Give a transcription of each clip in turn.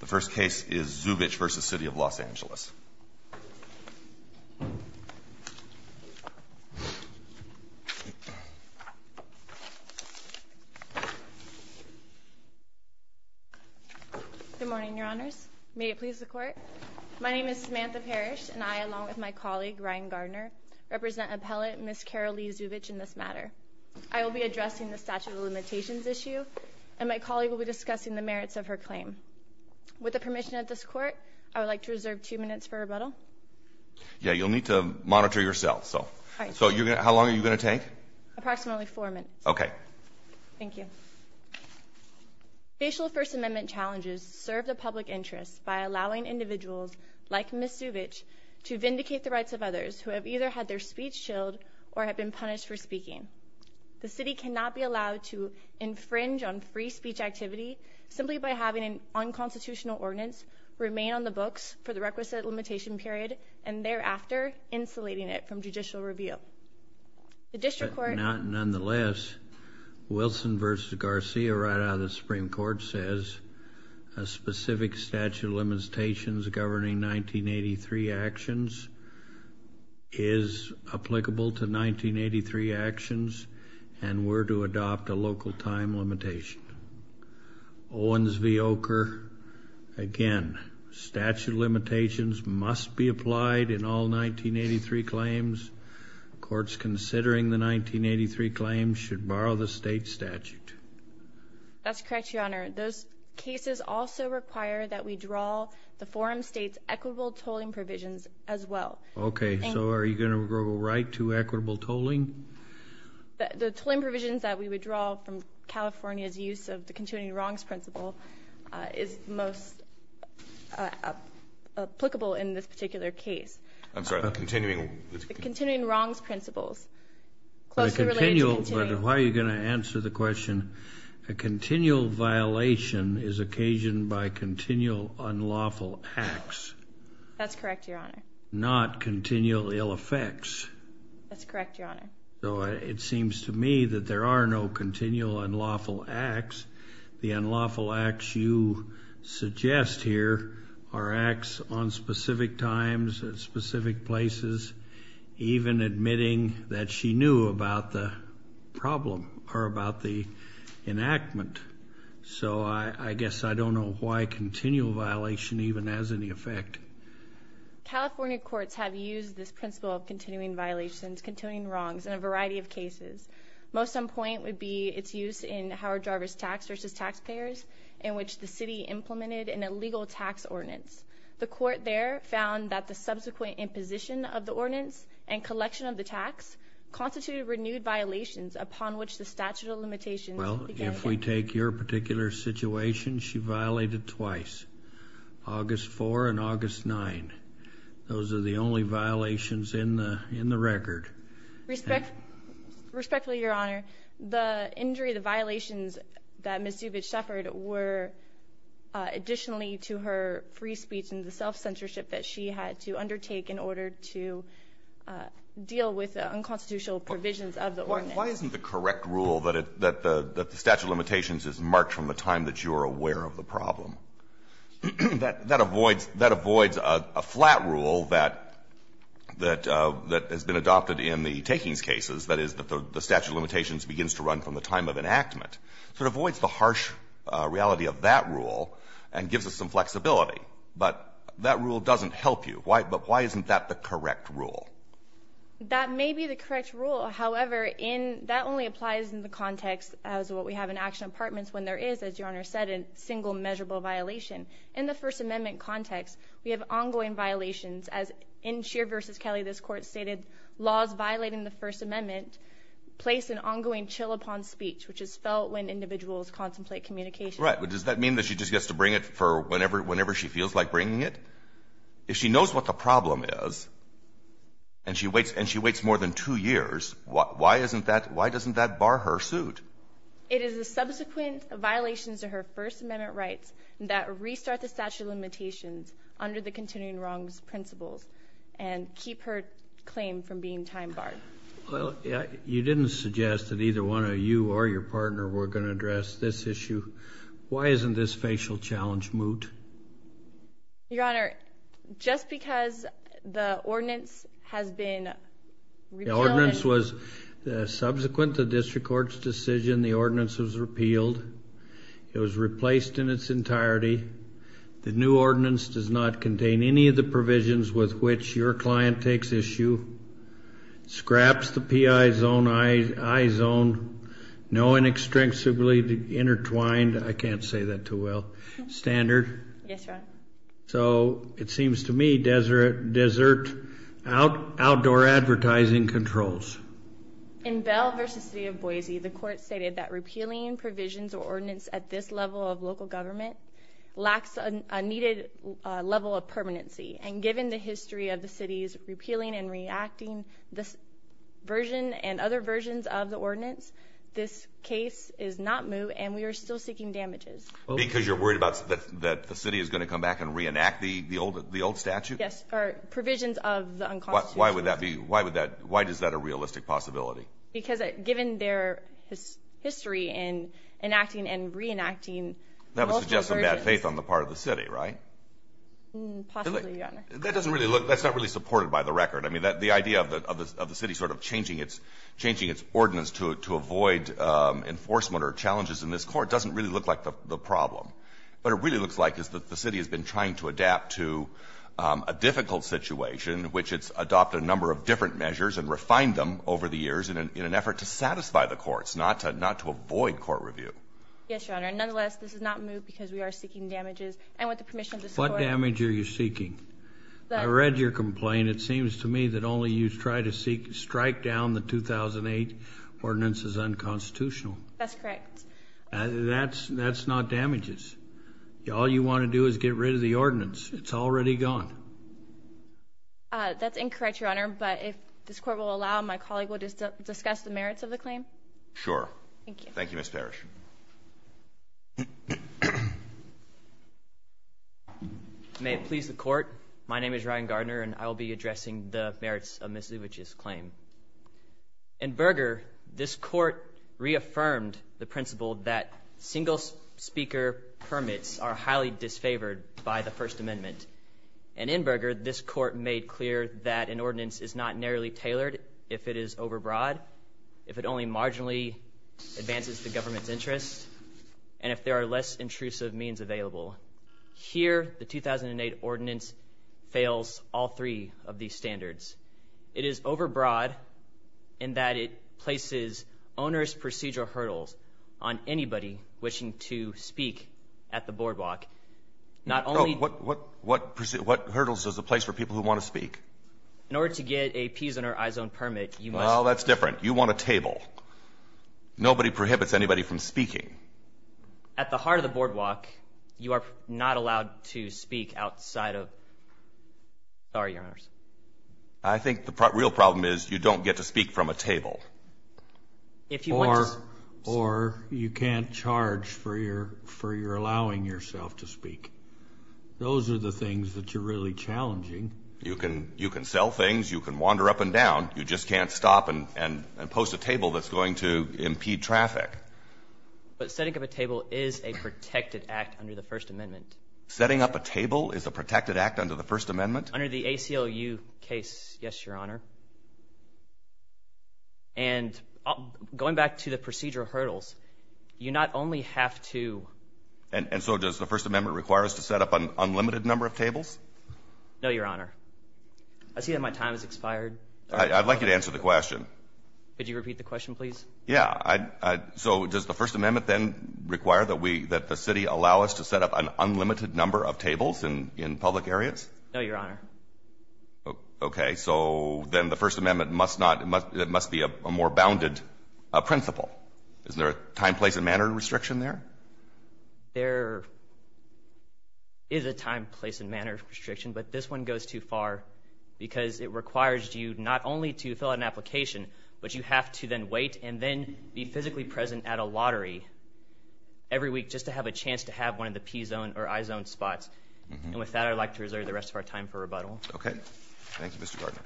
The first case is Zuvich v. City of Los Angeles. Good morning, your honors. May it please the court. My name is Samantha Parrish, and I, along with my colleague Ryan Gardner, represent appellate Ms. Carol-lee Zuvich in this matter. I will be addressing the statute of limitations issue, and my colleague will be discussing the merits of her claim. With the permission of this court, I would like to reserve two minutes for rebuttal. Yeah, you'll need to monitor yourself. So how long are you going to take? Approximately four minutes. OK. Thank you. Facial First Amendment challenges serve the public interest by allowing individuals like Ms. Zuvich to vindicate the rights of others who have either had their speech chilled or have been punished for speaking. The city cannot be allowed to infringe on free speech activity simply by having an unconstitutional ordinance remain on the books for the requisite limitation period, and thereafter, insulating it from judicial review. The district court- Nonetheless, Wilson v. Garcia, right out of the Supreme Court, says a specific statute of limitations governing 1983 actions is applicable to 1983 actions and were to adopt a local time limitation. Owens v. Ocher, again, statute of limitations must be applied in all 1983 claims. Courts considering the 1983 claims should borrow the state statute. That's correct, Your Honor. Those cases also require that we draw the forum state's equitable tolling provisions as well. OK. So are you going to go right to equitable tolling? The tolling provisions that we would draw from California's use of the continuing wrongs principle is most applicable in this particular case. I'm sorry, the continuing- The continuing wrongs principles. Closely related to continuing- Why are you going to answer the question? A continual violation is occasioned by continual unlawful acts. That's correct, Your Honor. Not continual ill effects. That's correct, Your Honor. So it seems to me that there are no continual unlawful acts. The unlawful acts you suggest here are acts on specific times, at specific places, even admitting that she knew about the problem or about the enactment. So I guess I don't know why continual violation even has any effect. California courts have used this principle of continuing violations, continuing wrongs, in a variety of cases. Most on point would be its use in Howard Jarvis tax versus taxpayers, in which the city implemented an illegal tax ordinance. The court there found that the subsequent imposition of the ordinance and collection of the tax constituted renewed violations upon which the statute of limitations began to affect- If we take your particular situation, she violated twice, August 4 and August 9. Those are the only violations in the record. Respectfully, Your Honor, the injury, the violations that Ms. Zubich suffered were additionally to her free speech and the self-censorship that she had to undertake in order to deal with unconstitutional provisions of the ordinance. Why isn't the correct rule that the statute of limitations is marked from the time that you're aware of the problem? That avoids a flat rule that has been adopted in the takings cases, that is, the statute of limitations begins to run from the time of enactment. So it avoids the harsh reality of that rule and gives us some flexibility. But that rule doesn't help you. Why isn't that the correct rule? That may be the correct rule. However, that only applies in the context as what we have in action apartments when there is, as Your Honor said, a single measurable violation. In the First Amendment context, we have ongoing violations. As in Scheer v. Kelly, this Court stated, laws violating the First Amendment place an ongoing chill upon speech, which is felt when individuals contemplate communication. Right. But does that mean that she just gets to bring it for whenever she feels like bringing it? If she knows what the problem is and she waits more than two years, why doesn't that bar her suit? It is the subsequent violations of her First Amendment rights that restart the statute of limitations under the continuing wrongs principles and keep her claim from being time barred. Well, you didn't suggest that either one of you or your partner were going to address this issue. Why isn't this facial challenge moot? Your Honor, just because the ordinance has been repealed. The ordinance was subsequent to the district court's decision, the ordinance was repealed. It was replaced in its entirety. The new ordinance does not contain any of the provisions with which your client takes issue. Scraps the PI zone, I zone. No inextricably intertwined. I can't say that too well. Standard. Yes, Your Honor. So it seems to me desert outdoor advertising controls. In Bell versus City of Boise, the court stated that repealing provisions or ordinance at this level of local government lacks a needed level of permanency. And given the history of the city's repealing and reacting this version and other versions of the ordinance, this case is not moot. And we are still seeking damages. Because you're worried that the city is going to come back and reenact the old statute? Yes, or provisions of the unconstitution. Why would that be? Why is that a realistic possibility? Because given their history in enacting and reenacting multiple versions. That would suggest some bad faith on the part of the city, right? Possibly, Your Honor. That doesn't really look, that's not really supported by the record. I mean, the idea of the city sort of changing its ordinance to avoid enforcement or challenges in this court doesn't really look like the problem. What it really looks like is that the city has been trying to adapt to a difficult situation, which it's adopted a number of different measures and refined them over the years in an effort to satisfy the courts, not to avoid court review. Yes, Your Honor. Nonetheless, this is not moot because we are seeking damages. And with the permission of this court. What damage are you seeking? I read your complaint. It seems to me that only you try to strike down the 2008 ordinance is unconstitutional. That's correct. That's not damages. All you want to do is get rid of the ordinance. It's already gone. That's incorrect, Your Honor. But if this court will allow, my colleague will discuss the merits of the claim. Sure. Thank you, Ms. Parrish. May it please the court, my name is Ryan Gardner and I will be addressing the merits of Ms. Zubich's claim. In Berger, this court reaffirmed the principle that single speaker permits are highly disfavored by the First Amendment. And in Berger, this court made clear that an ordinance is not narrowly tailored if it is overbroad, if it only marginally advances the government's interests, and if there are less intrusive means available. Here, the 2008 ordinance fails all three of these standards. It is overbroad in that it places onerous procedural hurdles on anybody wishing to speak at the boardwalk. Not only- Oh, what hurdles does it place for people who want to speak? In order to get a peasant or iZone permit, you must- Well, that's different. You want a table. Nobody prohibits anybody from speaking. At the heart of the boardwalk, you are not allowed to speak outside of- sorry, Your Honors. I think the real problem is you don't get to speak from a table. If you want to- Or you can't charge for your allowing yourself to speak. Those are the things that you're really challenging. You can sell things. You can wander up and down. You just can't stop and post a table that's going to impede traffic. But setting up a table is a protected act under the First Amendment. Setting up a table is a protected act under the First Amendment? Under the ACLU case, yes, Your Honor. And going back to the procedural hurdles, you not only have to- And so does the First Amendment require us to set up an unlimited number of tables? No, Your Honor. I see that my time has expired. I'd like you to answer the question. Could you repeat the question, please? Yeah, so does the First Amendment then require that the city allow us to set up an unlimited number of tables in public areas? No, Your Honor. OK, so then the First Amendment must be a more bounded principle. Is there a time, place, and manner restriction there? There is a time, place, and manner restriction, but this one goes too far because it requires you not only to fill out an application, but you have to then wait and then be physically present at a lottery every week just to have a chance to have one of the P-zone or I-zone spots. And with that, I'd like to reserve the rest of our time for rebuttal. OK. Thank you, Mr. Gardner.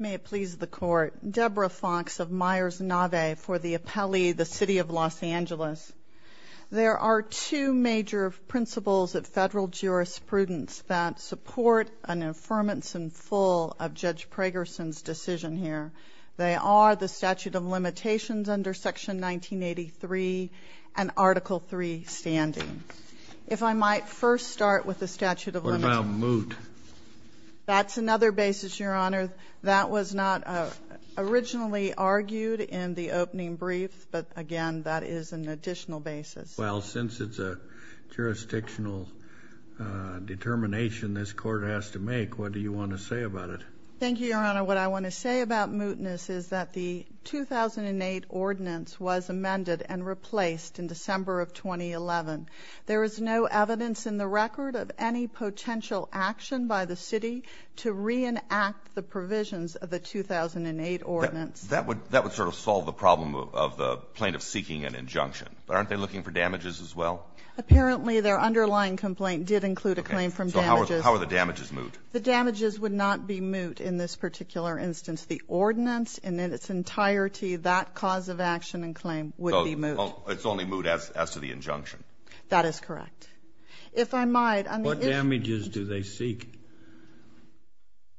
May it please the Court, Deborah Fox of Myers Nave for the appellee, the city of Los Angeles. There are two major principles of federal jurisprudence that support an affirmance in full of Judge Pragerson's decision here. They are the statute of limitations under Section 1983 and Article III standing. If I might first start with the statute of limitations. What about moot? That's another basis, Your Honor. That was not originally argued in the opening brief, but again, that is an additional basis. Well, since it's a jurisdictional determination this Court has to make, what do you want to say about it? Thank you, Your Honor. What I want to say about mootness is that the 2008 ordinance was amended and replaced in December of 2011. There is no evidence in the record of any potential action by the city to reenact the provisions of the 2008 ordinance. That would sort of solve the problem of the plaintiff seeking an injunction. Aren't they looking for damages as well? Apparently, their underlying complaint did include a claim from damages. So how are the damages moot? The damages would not be moot in this particular instance. The ordinance in its entirety, that cause of action and claim would be moot. It's only moot as to the injunction. That is correct. If I might, on the issue of mootness. What damages do they seek?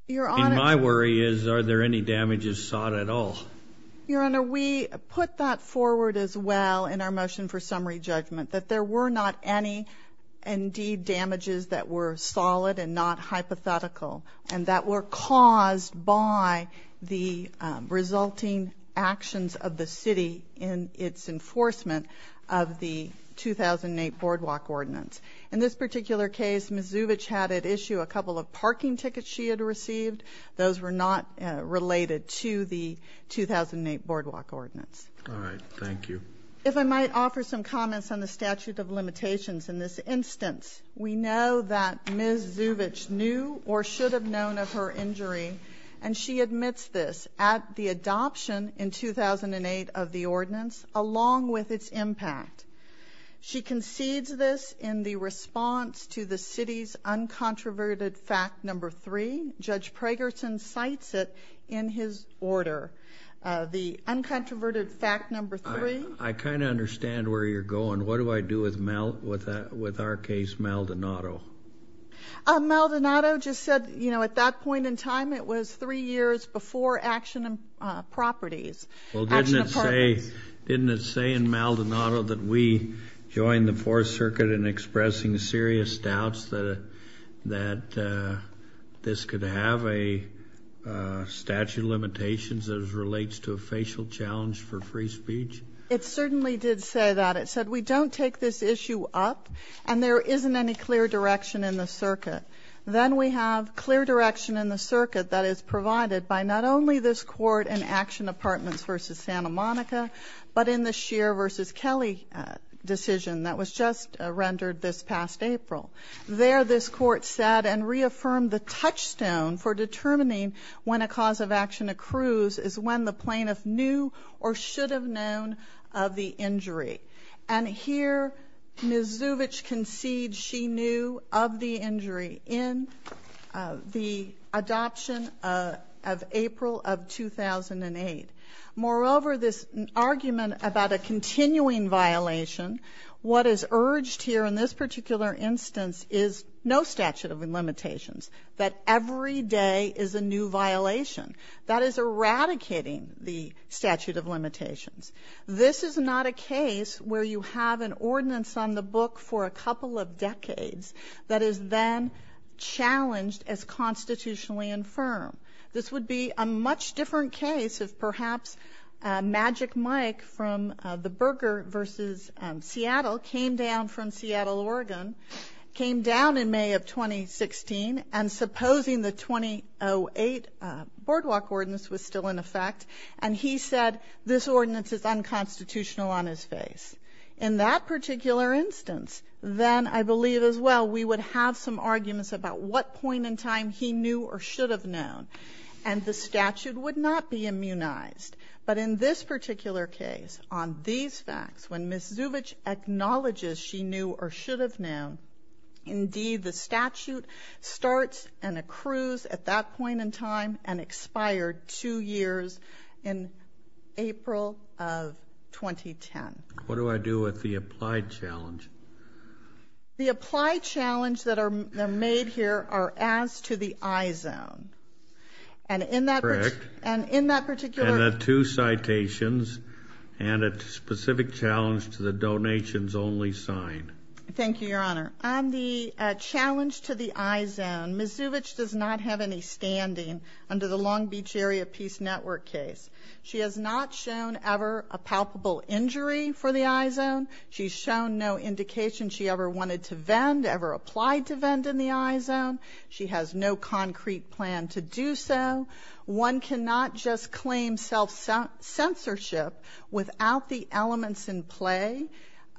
Your Honor. My worry is, are there any damages sought at all? Your Honor, we put that forward as well in our motion for summary judgment, that there were not any indeed damages that were solid and not hypothetical and that were caused by the resulting actions of the city in its enforcement of the 2008 boardwalk ordinance. In this particular case, Ms. Zubich had at issue a couple of parking tickets she had received. Those were not related to the 2008 boardwalk ordinance. All right. Thank you. If I might offer some comments on the statute of limitations. In this instance, we know that Ms. Zubich knew or should have known of her injury, and she admits this at the adoption in 2008 of the ordinance along with its impact. She concedes this in the response to the city's uncontroverted fact number three. Judge Pragerson cites it in his order. The uncontroverted fact number three. I kind of understand where you're going. What do I do with our case, Maldonado? Maldonado just said, at that point in time, it was three years before action of properties. Well, didn't it say in Maldonado that we join the Fourth Circuit in expressing serious doubts that this could have a statute of limitations as relates to a facial challenge for free speech? It certainly did say that. It said, we don't take this issue up, and there isn't any clear direction in the circuit. Then we have clear direction in the circuit that is provided by not only this court in Action Apartments versus Santa Monica, but in the Scheer versus Kelly decision that was just rendered this past April. There, this court said and reaffirmed the touchstone for determining when a cause of action accrues is when the plaintiff knew or should have known of the injury. And here, Ms. Zuvich concedes she knew of the injury in the adoption of April of 2008. Moreover, this argument about a continuing violation, what is urged here in this particular instance is no statute of limitations, that every day is a new violation. That is eradicating the statute of limitations. This is not a case where you have an ordinance on the book for a couple of decades that is then challenged as constitutionally infirm. This would be a much different case if perhaps Magic Mike from the Berger versus Seattle came down from Seattle, Oregon, came down in May of 2016, and supposing the 2008 boardwalk ordinance was still in effect, and he said this ordinance is unconstitutional on his face. In that particular instance, then I believe as well, we would have some arguments about what point in time he knew or should have known. And the statute would not be immunized. But in this particular case, on these facts, when Ms. Zuvich acknowledges she knew or should have known, indeed the statute starts and accrues at that point in time and expired two years in April of 2010. What do I do with the applied challenge? The applied challenge that are made here are as to the I-zone. And in that particular... And the two citations and a specific challenge to the donations only sign. Thank you, Your Honor. On the challenge to the I-zone, Ms. Zuvich does not have any standing under the Long Beach Area Peace Network case. She has not shown ever a palpable injury for the I-zone. She's shown no indication she ever wanted to vend, ever applied to vend in the I-zone. She has no concrete plan to do so. One cannot just claim self-censorship without the elements in play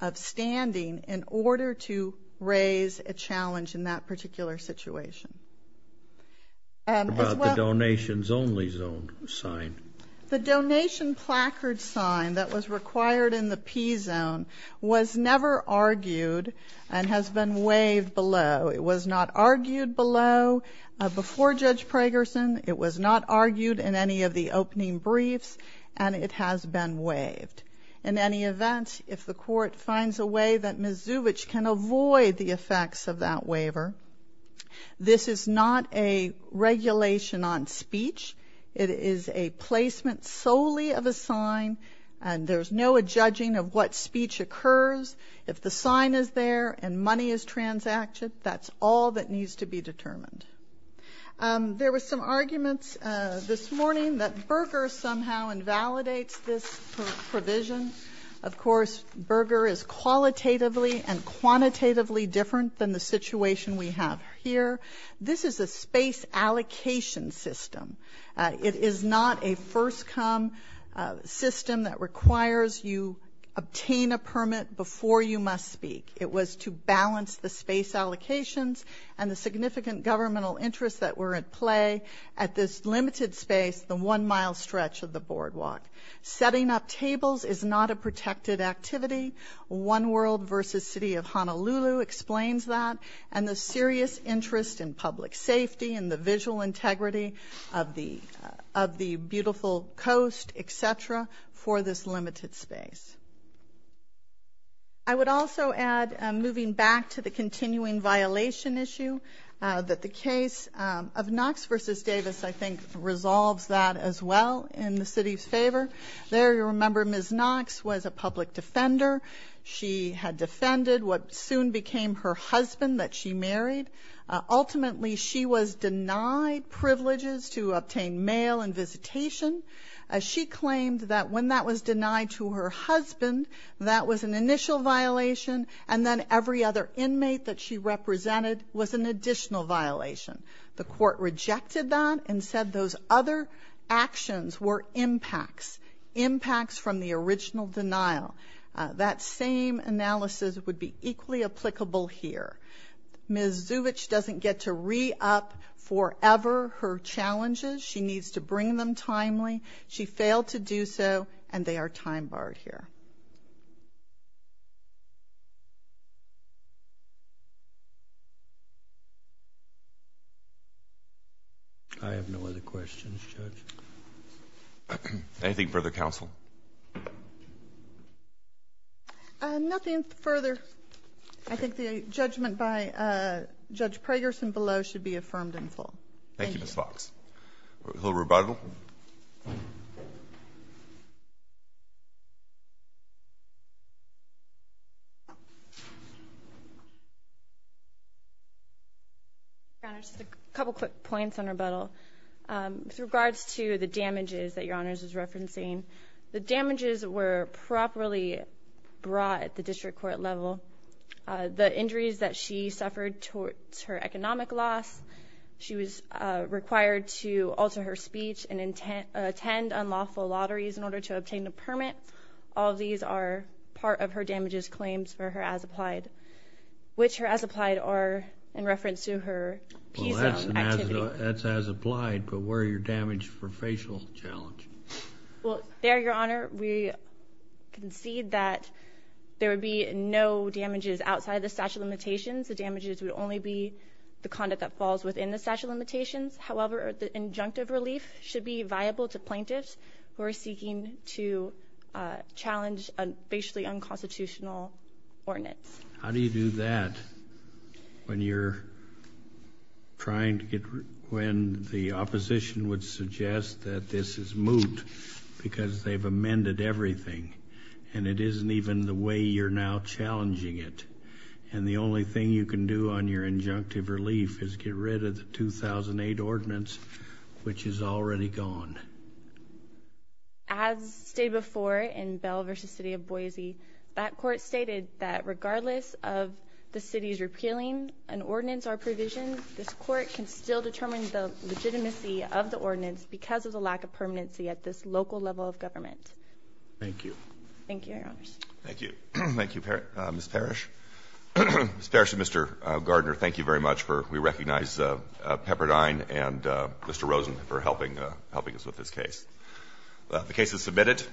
of standing in order to raise a challenge in that particular situation. What about the donations only zone sign? The donation placard sign that was required in the P-zone was never argued and has been waived below. It was not argued below before Judge Pragerson. It was not argued in any of the opening briefs and it has been waived. In any event, if the court finds a way that Ms. Zuvich can avoid the effects of that waiver, this is not a regulation on speech. It is a placement solely of a sign and there's no judging of what speech occurs. If the sign is there and money is transacted, that's all that needs to be determined. There were some arguments this morning that Berger somehow invalidates this provision. Of course, Berger is qualitatively and quantitatively different than the situation we have here. This is a space allocation system. It is not a first come system that requires you obtain a permit before you must speak. It was to balance the space allocations and the significant governmental interests that were at play at this limited space, the one mile stretch of the boardwalk. Setting up tables is not a protected activity. One World versus City of Honolulu explains that and the serious interest in public safety and the visual integrity of the beautiful coast, et cetera, for this limited space. I would also add, moving back to the continuing violation issue, that the case of Knox versus Davis, there you remember Ms. Knox was a public defender. She had defended what soon became her husband that she married. Ultimately, she was denied privileges to obtain mail and visitation. She claimed that when that was denied to her husband, that was an initial violation and then every other inmate that she represented was an additional violation. The court rejected that and said those other actions were impacts, impacts from the original denial. That same analysis would be equally applicable here. Ms. Zuvich doesn't get to re-up forever her challenges. She needs to bring them timely. She failed to do so and they are time-barred here. Thank you. I have no other questions, Judge. Anything further, counsel? Nothing further. I think the judgment by Judge Pragerson below should be affirmed in full. Thank you, Ms. Fox. A little rebuttal? Your Honor, just a couple quick points on rebuttal. With regards to the damages that Your Honor is referencing, the damages were properly brought at the district court level. The injuries that she suffered towards her economic loss, she was required to alter her speech and attend unlawful lotteries in order to obtain a permit. All of these are part of her damages claims for her as-applied. Which her as-applied are in reference to her peace zone activity. That's as-applied, but where are your damage for facial challenge? Well, there, Your Honor, we concede that there would be no damages outside of the statute of limitations. The damages would only be the conduct that falls within the statute of limitations. However, the injunctive relief should be viable to plaintiffs who are seeking to challenge basically unconstitutional ordinance. How do you do that when you're trying to get, when the opposition would suggest that this is moot because they've amended everything and it isn't even the way you're now challenging it. And the only thing you can do on your injunctive relief is get rid of the 2008 ordinance, which is already gone. As stated before in Bell v. City of Boise, that court stated that regardless of the city's repealing an ordinance or provision, this court can still determine the legitimacy of the ordinance because of the lack of permanency at this local level of government. Thank you. Thank you, Your Honors. Thank you. Thank you, Ms. Parrish. Ms. Parrish and Mr. Gardner, thank you very much for, we recognize Pepperdine and Mr. Rosen for helping us with this case. The case is submitted.